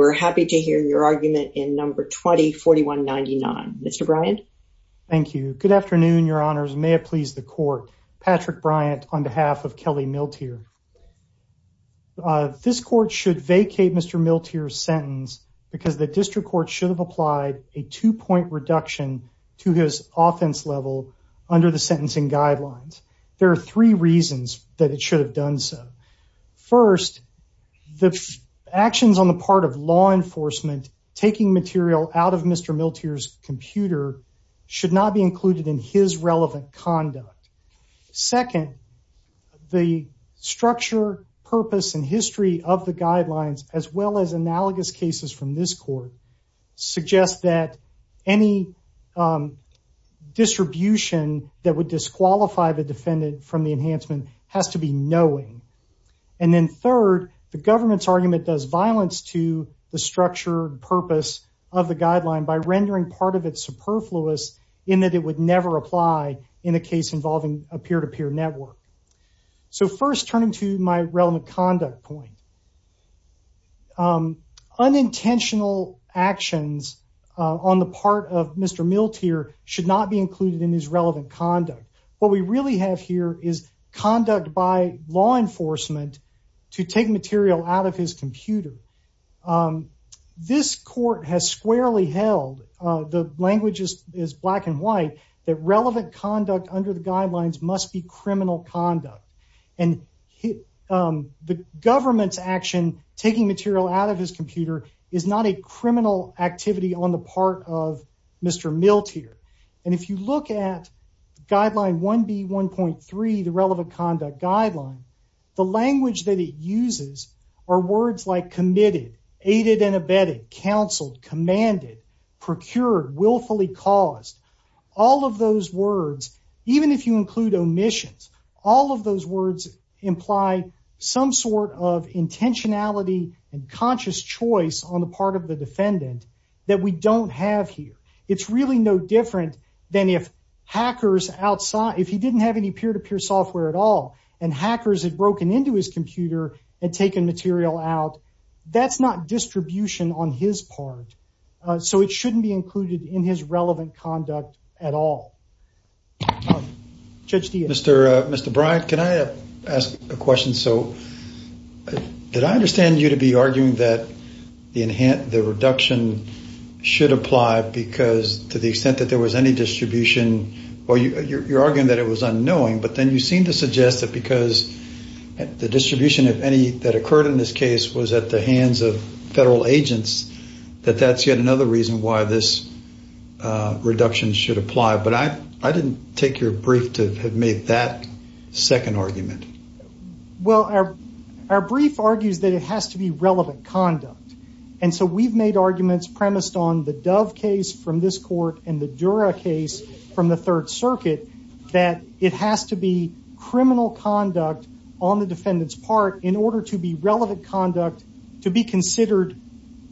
We're happy to hear your argument in number 20, 4199. Mr. Bryant. Thank you. Good afternoon, your honors. May it please the court. Patrick Bryant on behalf of Kelly Miltier. This court should vacate Mr. Miltier's sentence because the district court should have applied a two point reduction to his offense level under the sentencing guidelines. There are three reasons that it should have done so. First, the actions on the part of law enforcement taking material out of Mr. Miltier's computer should not be included in his relevant conduct. Second, the structure, purpose, and history of the guidelines, as well as analogous cases from this court, suggest that any distribution that would disqualify the defendant from the enhancement has to be knowing. And then third, the government's argument does violence to the structure and purpose of the guideline by rendering part of it superfluous in that it would never apply in a case involving a peer to peer network. So first, turning to my relevant conduct point. Unintentional actions on the part of Mr. Miltier should not be included in his relevant conduct. What we really have here is conduct by law enforcement to take material out of his computer. This court has squarely held, the language is black and white, that relevant conduct under the guidelines must be criminal conduct and the government's action taking material out of his computer is not a criminal activity on the part of Mr. Miltier. And if you look at guideline 1B1.3, the relevant conduct guideline, the language that it uses are words like committed, aided and abetted, counseled, commanded, procured, willfully caused, all of those words, even if you include omissions, all of those words imply some sort of intentionality and conscious choice on the part of the defendant that we don't have here. It's really no different than if hackers outside, if he didn't have any peer to peer software at all, and hackers had broken into his computer and taken material out, that's not distribution on his part. So it shouldn't be included in his relevant conduct at all. Mr. Bryant, can I ask a question? So did I understand you to be arguing that the reduction should apply because to the extent that there was any distribution, or you're arguing that it was unknowing, but then you seem to suggest that because the distribution, if any, that occurred in this case was at the hands of federal agents, that that's yet another reason why this reduction should apply. But I didn't take your brief to have made that second argument. Well, our brief argues that it has to be relevant conduct. And so we've made arguments premised on the Dove case from this court and the Dura case from the Third Circuit that it has to be criminal conduct on the defendant's part in order to be relevant conduct to be considered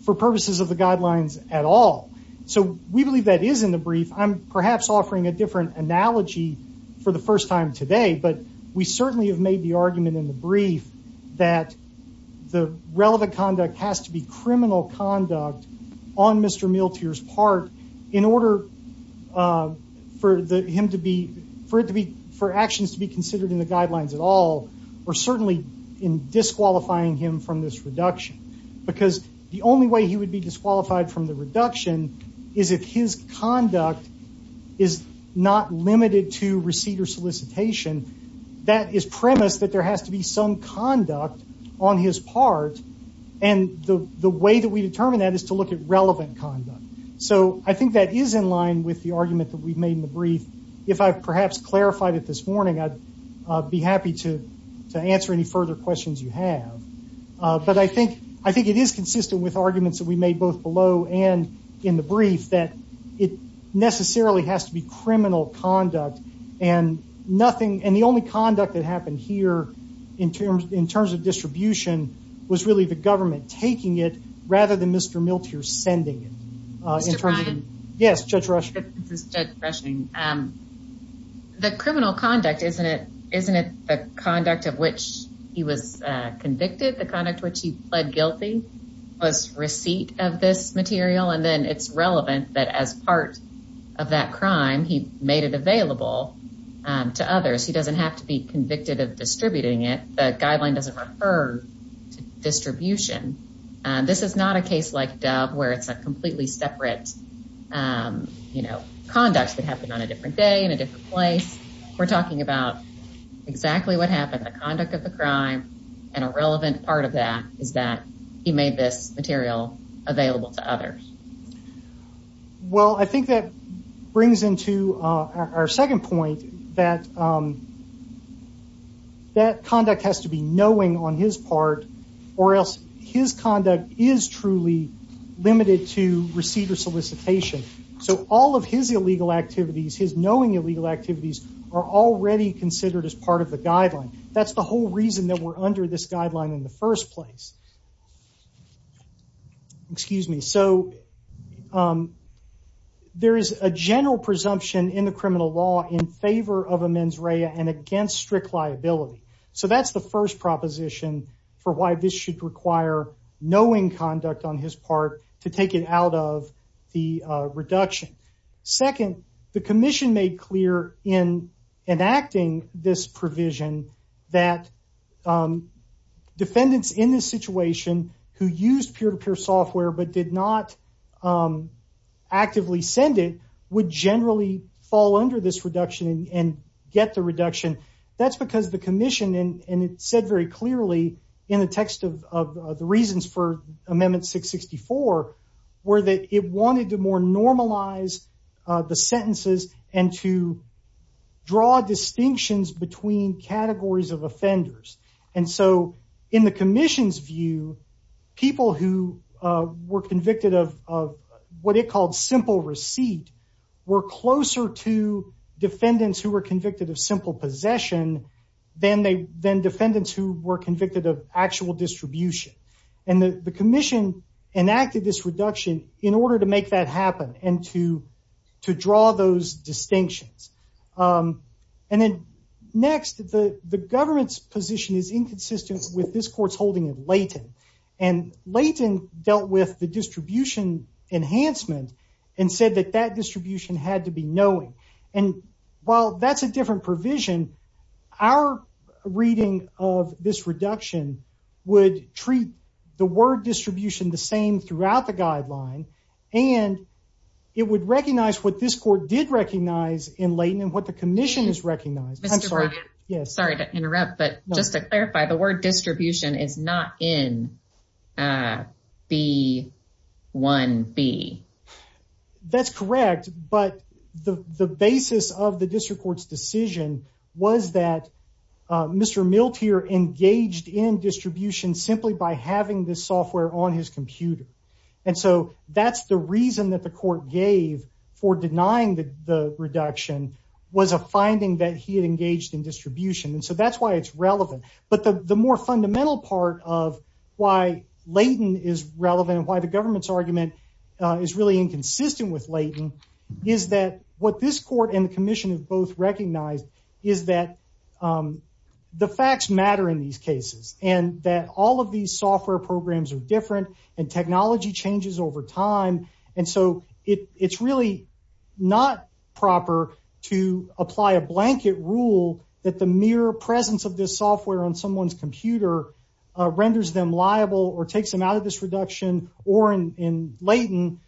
for purposes of the guidelines at all. So we believe that is in the brief. I'm perhaps offering a different analogy for the first time today, but we certainly have made the argument in the brief that the relevant conduct has to be criminal conduct on Mr. Miltier's part in order for actions to be considered in the guidelines at all, or certainly in disqualifying him from this reduction. Because the only way he would be disqualified from the reduction is if his conduct is not limited to receipt or solicitation. That is premised that there has to be some conduct on his part, and the way that we determine that is to look at relevant conduct. So I think that is in line with the argument that we've made in the brief. If I've perhaps clarified it this morning, I'd be happy to answer any further questions you have. But I think it is consistent with arguments that we made both below and in the brief that it necessarily has to be criminal conduct. And the only conduct that happened here in terms of distribution was really the government taking it rather than Mr. Miltier sending it. Yes, Judge Rush. The criminal conduct, isn't it the conduct of which he was convicted? The conduct which he pled guilty was receipt of this material, and then it's relevant that as part of that crime, he made it available to others. He doesn't have to be convicted of distributing it. The guideline doesn't refer to distribution. This is not a case like Dove where it's a completely separate conduct that happened on a different day in a different place. We're talking about exactly what happened, the conduct of the crime, and a relevant part of that is that he made this material available to others. Well, I think that brings into our second point that that conduct has to be knowing on his part or else his conduct is truly limited to receipt or solicitation. So all of his illegal activities, his knowing illegal activities, are already considered as part of the guideline. That's the whole reason that we're under this guideline in the first place. Excuse me. So there is a general presumption in the criminal law in favor of a mens rea and against strict liability. So that's the first proposition for why this should require knowing conduct on his part to take it out of the reduction. Second, the commission made clear in enacting this provision that defendants in this situation who used peer-to-peer software but did not actively send it would generally fall under this reduction and get the reduction. That's because the commission, and it said very clearly in the text of the reasons for Amendment 664, were that it wanted to more normalize the sentences and to draw distinctions between categories of offenders. And so in the commission's view, people who were convicted of what it called simple receipt were closer to defendants who were convicted of simple possession than defendants who were convicted of actual distribution. And the commission enacted this reduction in order to make that happen and to draw those distinctions. And then next, the government's position is inconsistent with this court's holding of Leighton. And Leighton dealt with the distribution enhancement and said that that distribution had to be knowing. And while that's a different provision, our reading of this reduction would treat the word distribution the same throughout the guideline. And it would recognize what this court did recognize in Leighton and what the commission has recognized. I'm sorry to interrupt, but just to clarify, the word distribution is not in B1B. That's correct. But the basis of the district court's decision was that Mr. Miltier engaged in distribution simply by having this software on his computer. And so that's the reason that the court gave for denying that the reduction was a finding that he had engaged in distribution. And so that's why it's relevant. But the more fundamental part of why Leighton is relevant and why the government's argument is really inconsistent with Leighton is that what this court and the commission have both recognized is that the facts matter in these cases and that all of these software programs are different and technology changes over time. And so it's really not proper to apply a blanket rule that the mere presence of this software on someone's computer renders them liable or takes them out of this reduction or in Leighton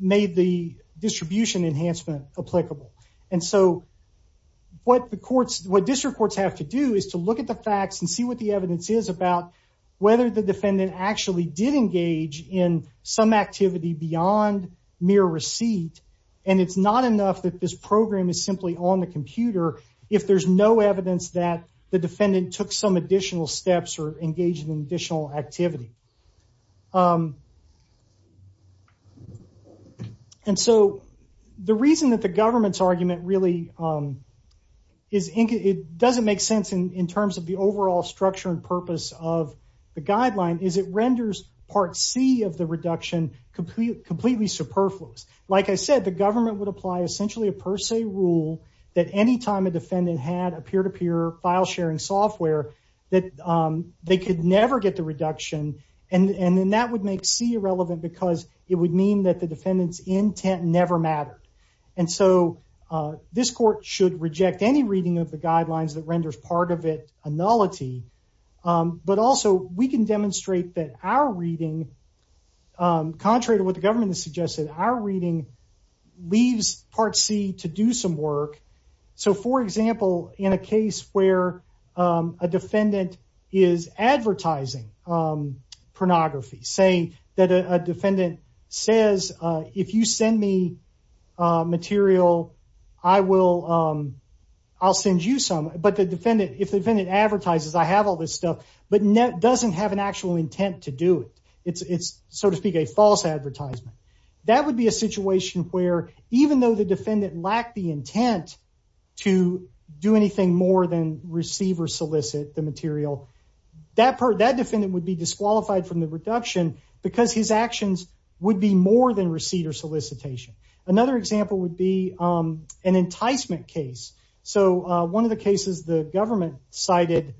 made the distribution enhancement applicable. And so what district courts have to do is to look at the facts and see what the evidence is about whether the defendant actually did engage in some activity beyond mere receipt. And it's not enough that this program is simply on the computer if there's no evidence that the defendant took some additional steps or engaged in additional activity. And so the reason that the government's argument really doesn't make sense in terms of the overall structure and purpose of the guideline is it renders part C of the reduction completely superfluous. Like I said, the government would apply essentially a per se rule that any time a defendant had a peer-to-peer file sharing software that they could never get the reduction and then that would make C irrelevant because it would mean that the defendant's intent never mattered. And so this court should reject any reading of the guidelines that renders part of it a nullity. But also we can demonstrate that our reading, contrary to what the government has suggested, our reading leaves part C to do some work. So for example, in a case where a defendant is advertising pornography, say that a defendant says, if you send me material, I'll send you some. But if the defendant advertises, I have all this stuff, but doesn't have an actual intent to do it. It's, so to speak, a false advertisement. That would be a situation where even though the defendant lacked the intent to do anything more than receive or solicit the material, that defendant would be disqualified from the reduction because his actions would be more than receipt or solicitation. Another example would be an enticement case. So one of the cases the government cited,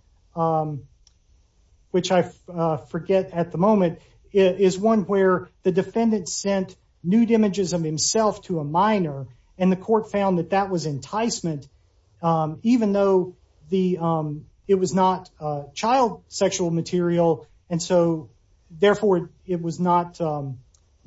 which I forget at the moment, is one where the defendant sent nude images of himself to a minor and the court found that that was enticement, even though it was not child sexual material. And so, therefore, it was not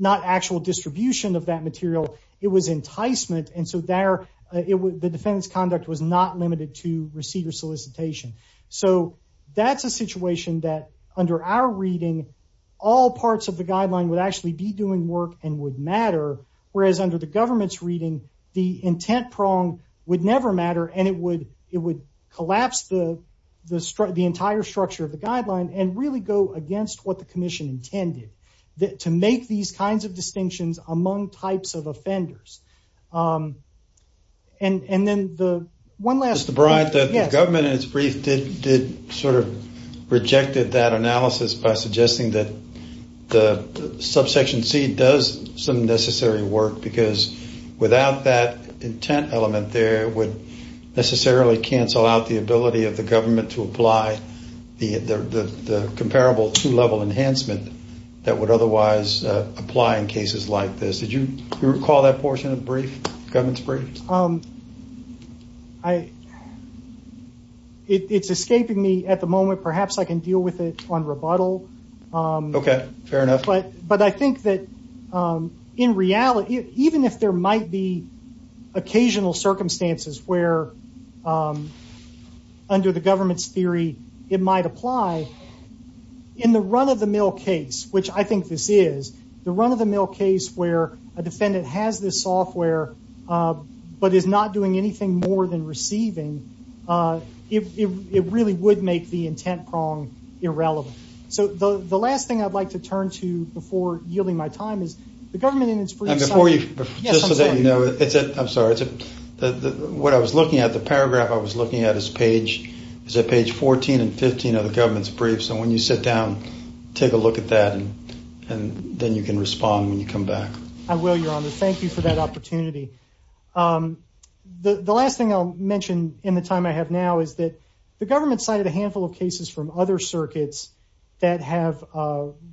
actual distribution of that material. It was enticement. And so there, the defendant's conduct was not limited to receipt or solicitation. So that's a situation that, under our reading, all parts of the guideline would actually be doing work and would matter, whereas under the government's reading, the intent prong would never matter and it would collapse the entire structure of the guideline and really go against what the commission intended. To make these kinds of distinctions among types of offenders. And then the one last… The government, in its brief, sort of rejected that analysis by suggesting that the subsection C does some necessary work because without that intent element there, it would necessarily cancel out the ability of the government to apply the comparable two-level enhancement that would otherwise apply in cases like this. Did you recall that portion of the government's brief? It's escaping me at the moment. Perhaps I can deal with it on rebuttal. Okay, fair enough. But I think that in reality, even if there might be occasional circumstances where, under the government's theory, it might apply, in the run-of-the-mill case, which I think this is, the run-of-the-mill case where a defendant has this software but is not doing anything more than receiving, it really would make the intent prong irrelevant. So the last thing I'd like to turn to before yielding my time is the government in its brief… And before you… Yes, I'm sorry. I'm sorry. What I was looking at, the paragraph I was looking at, is at page 14 and 15 of the government's brief. So when you sit down, take a look at that, and then you can respond when you come back. I will, Your Honor. Thank you for that opportunity. The last thing I'll mention in the time I have now is that the government cited a handful of cases from other circuits that have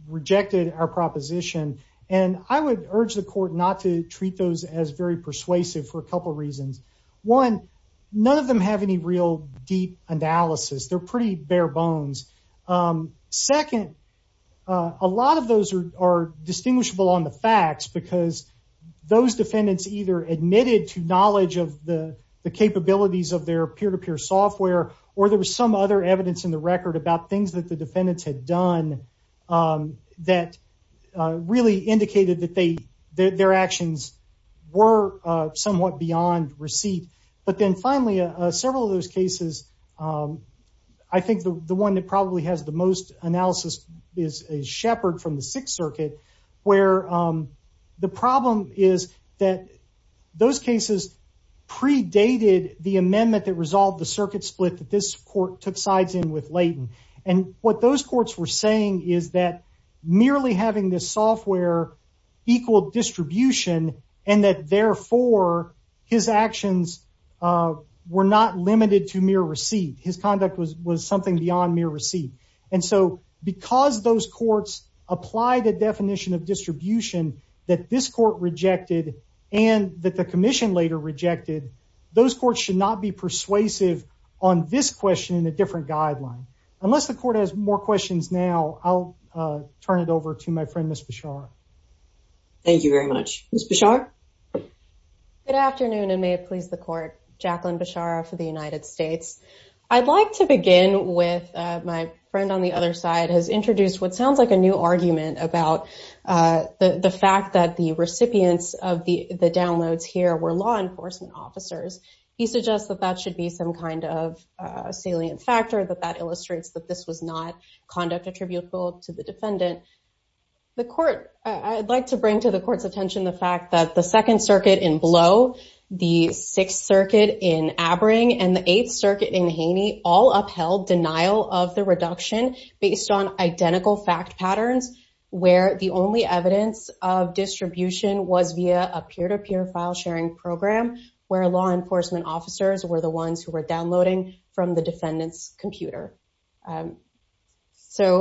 rejected our proposition. And I would urge the court not to treat those as very persuasive for a couple reasons. One, none of them have any real deep analysis. They're pretty bare bones. Second, a lot of those are distinguishable on the facts because those defendants either admitted to knowledge of the capabilities of their peer-to-peer software, or there was some other evidence in the record about things that the defendants had done that really indicated that their actions were somewhat beyond receipt. But then finally, several of those cases, I think the one that probably has the most analysis is Shepard from the Sixth Circuit, where the problem is that those cases predated the amendment that resolved the circuit split that this court took sides in with Layton. And what those courts were saying is that merely having the software equal distribution and that therefore his actions were not limited to mere receipt. His conduct was something beyond mere receipt. And so because those courts applied the definition of distribution that this court rejected and that the commission later rejected, those courts should not be persuasive on this question in a different guideline. Unless the court has more questions now, I'll turn it over to my friend, Ms. Beshara. Thank you very much. Ms. Beshara? Good afternoon, and may it please the court. Jacqueline Beshara for the United States. I'd like to begin with my friend on the other side has introduced what sounds like a new argument about the fact that the recipients of the downloads here were law enforcement officers. He suggests that that should be some kind of salient factor, that that illustrates that this was not conduct attributable to the defendant. I'd like to bring to the court's attention the fact that the Second Circuit in Blow, the Sixth Circuit in Abering, and the Eighth Circuit in Haney all upheld denial of the reduction based on identical fact patterns, where the only evidence of distribution was via a peer-to-peer file sharing program where law enforcement officers were the ones who were downloading from the defendant's computer. Further,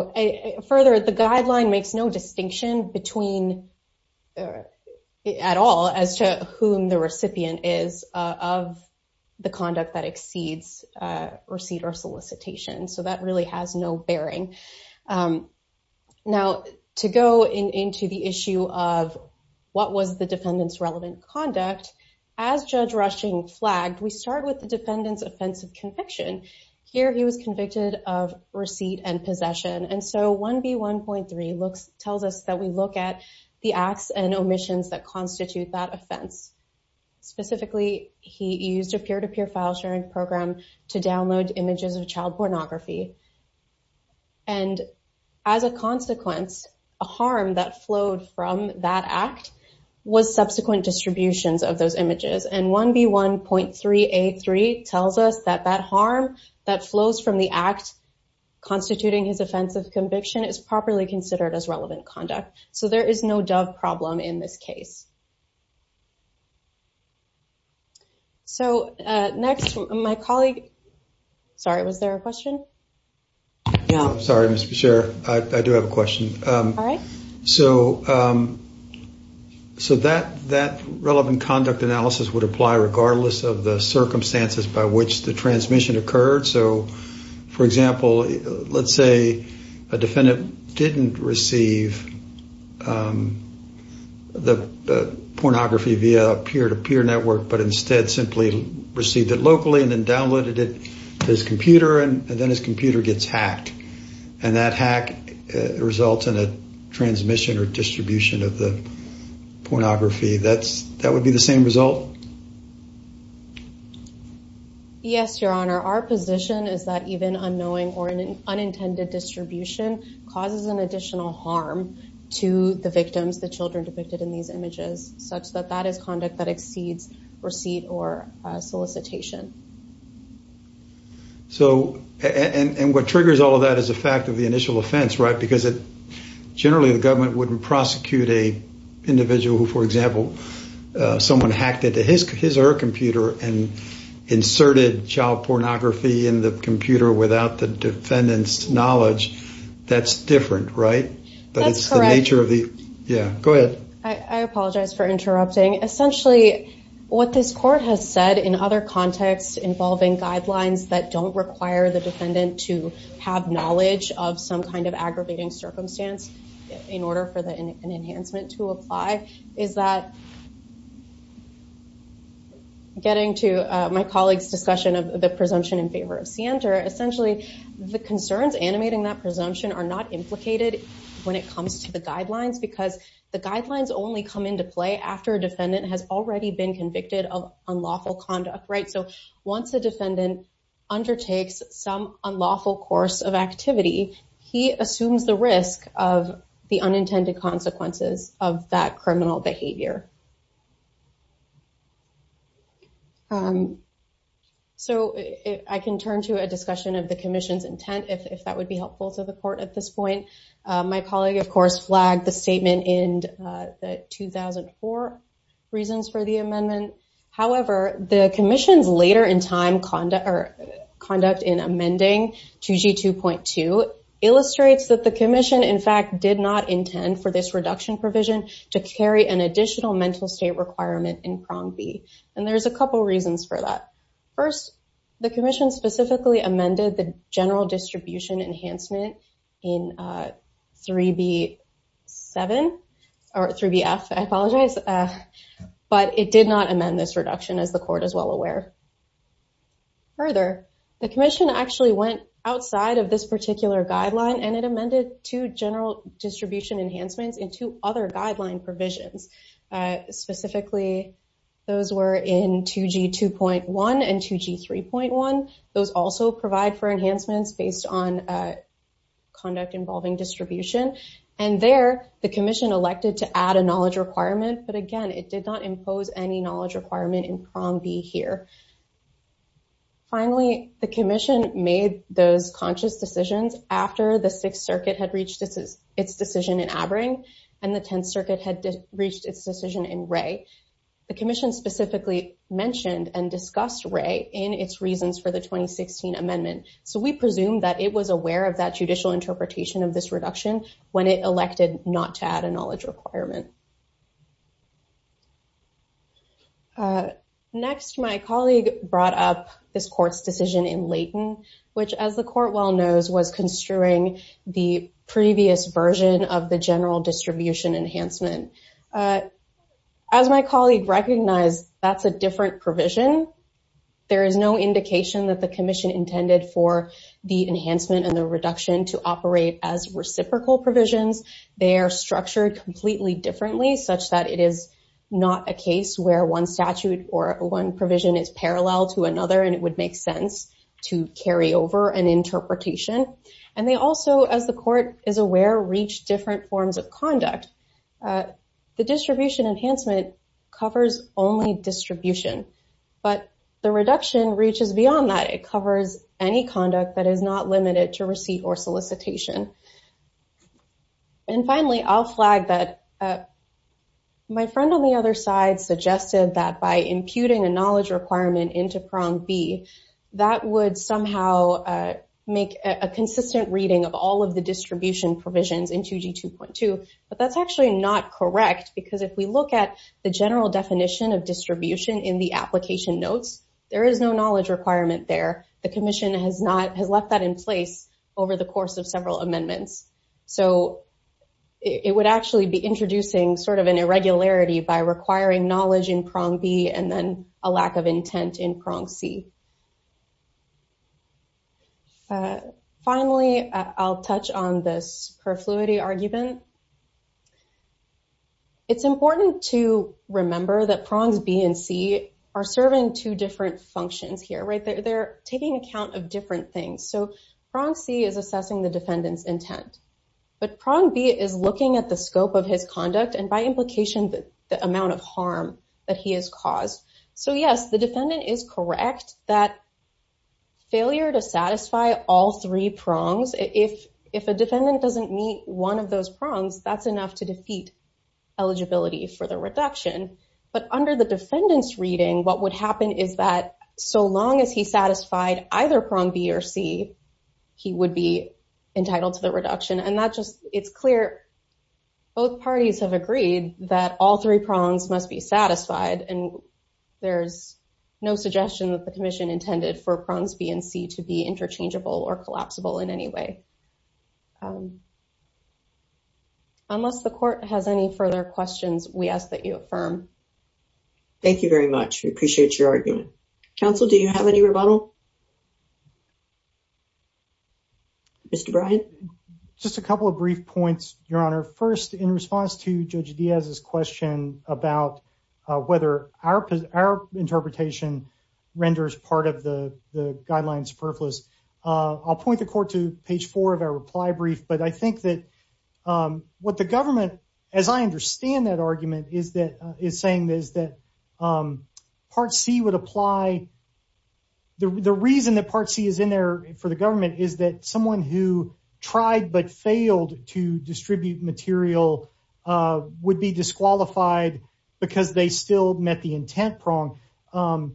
the guideline makes no distinction at all as to whom the recipient is of the conduct that exceeds receipt or solicitation, so that really has no bearing. Now, to go into the issue of what was the defendant's relevant conduct, as Judge Rushing flagged, we start with the defendant's offense of conviction. Here, he was convicted of receipt and possession, and so 1B1.3 tells us that we look at the acts and omissions that constitute that offense. Specifically, he used a peer-to-peer file sharing program to download images of child pornography, and as a consequence, a harm that flowed from that act was subsequent distributions of those images. And 1B1.3A3 tells us that that harm that flows from the act constituting his offense of conviction is properly considered as relevant conduct. So, there is no Dove problem in this case. So, next, my colleague – sorry, was there a question? Yeah. Sorry, Mr. Beshear. I do have a question. All right. So, that relevant conduct analysis would apply regardless of the circumstances by which the transmission occurred. So, for example, let's say a defendant didn't receive the pornography via a peer-to-peer network, but instead simply received it locally and then downloaded it to his computer, and then his computer gets hacked. And that hack results in a transmission or distribution of the pornography. That would be the same result? Yes, Your Honor. Our position is that even unknowing or an unintended distribution causes an additional harm to the victims, the children depicted in these images, such that that is conduct that exceeds receipt or solicitation. So, and what triggers all of that is the fact of the initial offense, right? Because generally, the government wouldn't prosecute an individual who, for example, someone hacked into his or her computer and inserted child pornography in the computer without the defendant's knowledge. That's different, right? That's correct. Yeah, go ahead. I apologize for interrupting. Essentially, what this court has said in other contexts involving guidelines that don't require the defendant to have knowledge of some kind of aggravating circumstance in order for an enhancement to apply is that getting to my colleague's discussion of the presumption in favor of Sienter, the concerns animating that presumption are not implicated when it comes to the guidelines because the guidelines only come into play after a defendant has already been convicted of unlawful conduct, right? So, once a defendant undertakes some unlawful course of activity, he assumes the risk of the unintended consequences of that criminal behavior. So, I can turn to a discussion of the commission's intent, if that would be helpful to the court at this point. My colleague, of course, flagged the statement in the 2004 reasons for the amendment. However, the commission's later in time conduct in amending 2G2.2 illustrates that the commission, in fact, did not intend for this reduction provision to carry an additional mental state requirement in prong B. And there's a couple reasons for that. First, the commission specifically amended the general distribution enhancement in 3B7 or 3BF. I apologize, but it did not amend this reduction, as the court is well aware. Further, the commission actually went outside of this particular guideline and it amended two general distribution enhancements into other guideline provisions. Specifically, those were in 2G2.1 and 2G3.1. Those also provide for enhancements based on conduct involving distribution. And there, the commission elected to add a knowledge requirement, but again, it did not impose any knowledge requirement in prong B here. Finally, the commission made those conscious decisions after the Sixth Circuit had reached its decision in Abering and the Tenth Circuit had reached its decision in Wray. The commission specifically mentioned and discussed Wray in its reasons for the 2016 amendment. So we presume that it was aware of that judicial interpretation of this reduction when it elected not to add a knowledge requirement. Next, my colleague brought up this court's decision in Layton, which, as the court well knows, was construing the previous version of the general distribution enhancement. As my colleague recognized, that's a different provision. There is no indication that the commission intended for the enhancement and the reduction to operate as reciprocal provisions. They are structured completely differently such that it is not a case where one statute or one provision is parallel to another and it would make sense to carry over an interpretation. And they also, as the court is aware, reach different forms of conduct. The distribution enhancement covers only distribution, but the reduction reaches beyond that. It covers any conduct that is not limited to receipt or solicitation. And finally, I'll flag that my friend on the other side suggested that by imputing a knowledge requirement into prong B, that would somehow make a consistent reading of all of the distribution provisions in 2G2.2. But that's actually not correct because if we look at the general definition of distribution in the application notes, there is no knowledge requirement there. The commission has left that in place over the course of several amendments. So it would actually be introducing sort of an irregularity by requiring knowledge in prong B and then a lack of intent in prong C. Finally, I'll touch on this perfluity argument. It's important to remember that prongs B and C are serving two different functions here, right? They're taking account of different things. So prong C is assessing the defendant's intent, but prong B is looking at the scope of his conduct and by implication, the amount of harm that he has caused. So yes, the defendant is correct that failure to satisfy all three prongs, if a defendant doesn't meet one of those prongs, that's enough to defeat eligibility for the reduction. But under the defendant's reading, what would happen is that so long as he satisfied either prong B or C, he would be entitled to the reduction. And that just, it's clear, both parties have agreed that all three prongs must be satisfied. And there's no suggestion that the commission intended for prongs B and C to be interchangeable or collapsible in any way. Unless the court has any further questions, we ask that you affirm. Thank you very much. We appreciate your argument. Counsel, do you have any rebuttal? Mr. Bryant. Just a couple of brief points, Your Honor. First, in response to Judge Diaz's question about whether our interpretation renders part of the guidelines purpose, I'll point the court to page four of our reply brief. But I think that what the government, as I understand that argument, is saying is that part C would apply. The reason that part C is in there for the government is that someone who tried but failed to distribute material would be disqualified because they still met the intent prong. The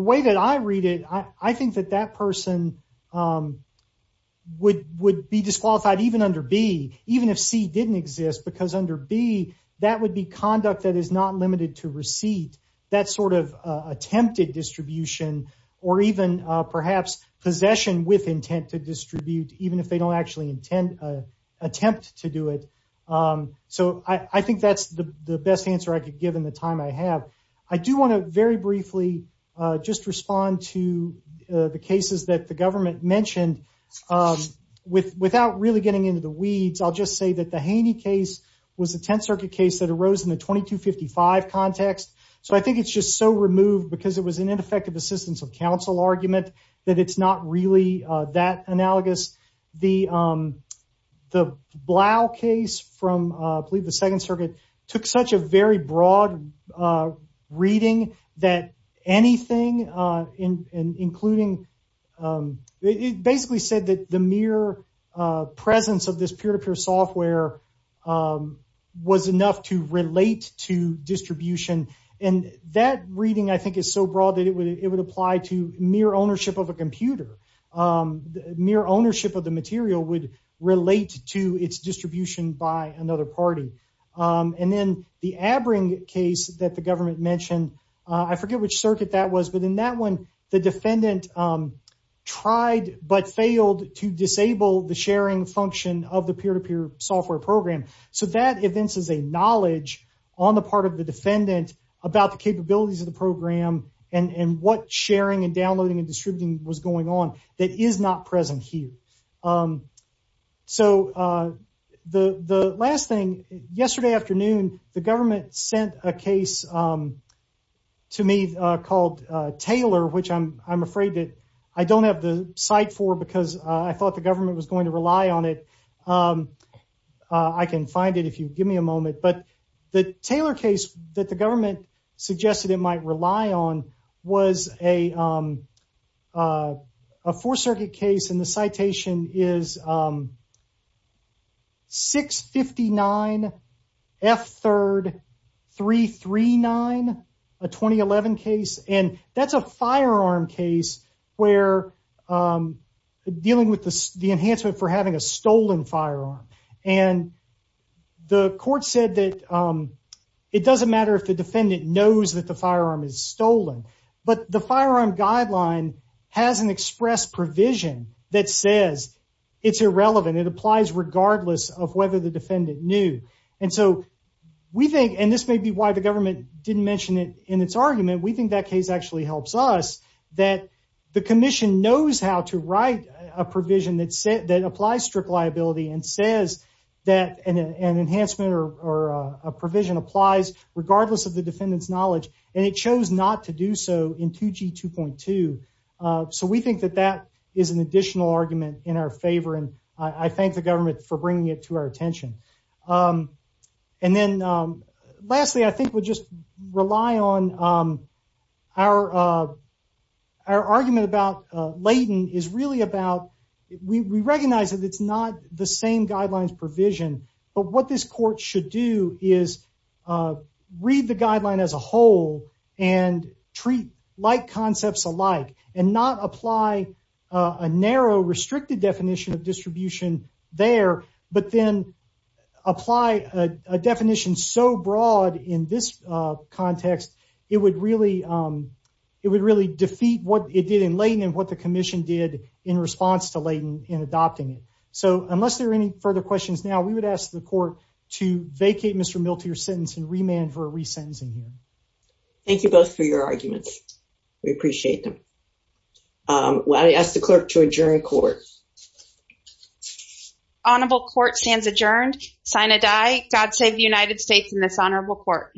way that I read it, I think that that person would be disqualified even under B, even if C didn't exist. Because under B, that would be conduct that is not limited to receipt. That sort of attempted distribution or even perhaps possession with intent to distribute, even if they don't actually attempt to do it. So I think that's the best answer I could give in the time I have. I do want to very briefly just respond to the cases that the government mentioned. Without really getting into the weeds, I'll just say that the Haney case was a Tenth Circuit case that arose in the 2255 context. So I think it's just so removed because it was an ineffective assistance of counsel argument that it's not really that analogous. The Blau case from, I believe, the Second Circuit took such a very broad reading that anything, including, it basically said that the mere presence of this peer-to-peer software was enough to relate to distribution. And that reading, I think, is so broad that it would apply to mere ownership of a computer. Mere ownership of the material would relate to its distribution by another party. And then the Abring case that the government mentioned, I forget which circuit that was, but in that one, the defendant tried but failed to disable the sharing function of the peer-to-peer software program. So that evinces a knowledge on the part of the defendant about the capabilities of the program and what sharing and downloading and distributing was going on that is not present here. So the last thing, yesterday afternoon the government sent a case to me called Taylor, which I'm afraid that I don't have the site for because I thought the government was going to rely on it. I can find it if you give me a moment. And the court said that it doesn't matter if the defendant knows that the firearm is stolen, but the firearm guideline has an express provision that says it's irrelevant. It applies regardless of whether the defendant knew. And so we think, and this may be why the government didn't mention it in its argument, we think that case actually helps us. That the commission knows how to write a provision that applies strict liability and says that an enhancement or a provision applies regardless of the defendant's knowledge, and it chose not to do so in 2G 2.2. So we think that that is an additional argument in our favor, and I thank the government for bringing it to our attention. And then lastly, I think we'll just rely on our argument about Layton is really about, we recognize that it's not the same guidelines provision, but what this court should do is read the guideline as a whole and treat like concepts alike and not apply a narrow, restricted definition of distribution there, but then apply a definition so broad in this context, it would really defeat what it did in Layton and what the commission did in response to Layton in adopting it. So unless there are any further questions now, we would ask the court to vacate Mr. Miltier's sentence and remand for a re-sentencing hearing. Thank you both for your arguments. We appreciate them. I ask the clerk to adjourn court. Honorable court stands adjourned. Sign a die. God save the United States in this honorable court.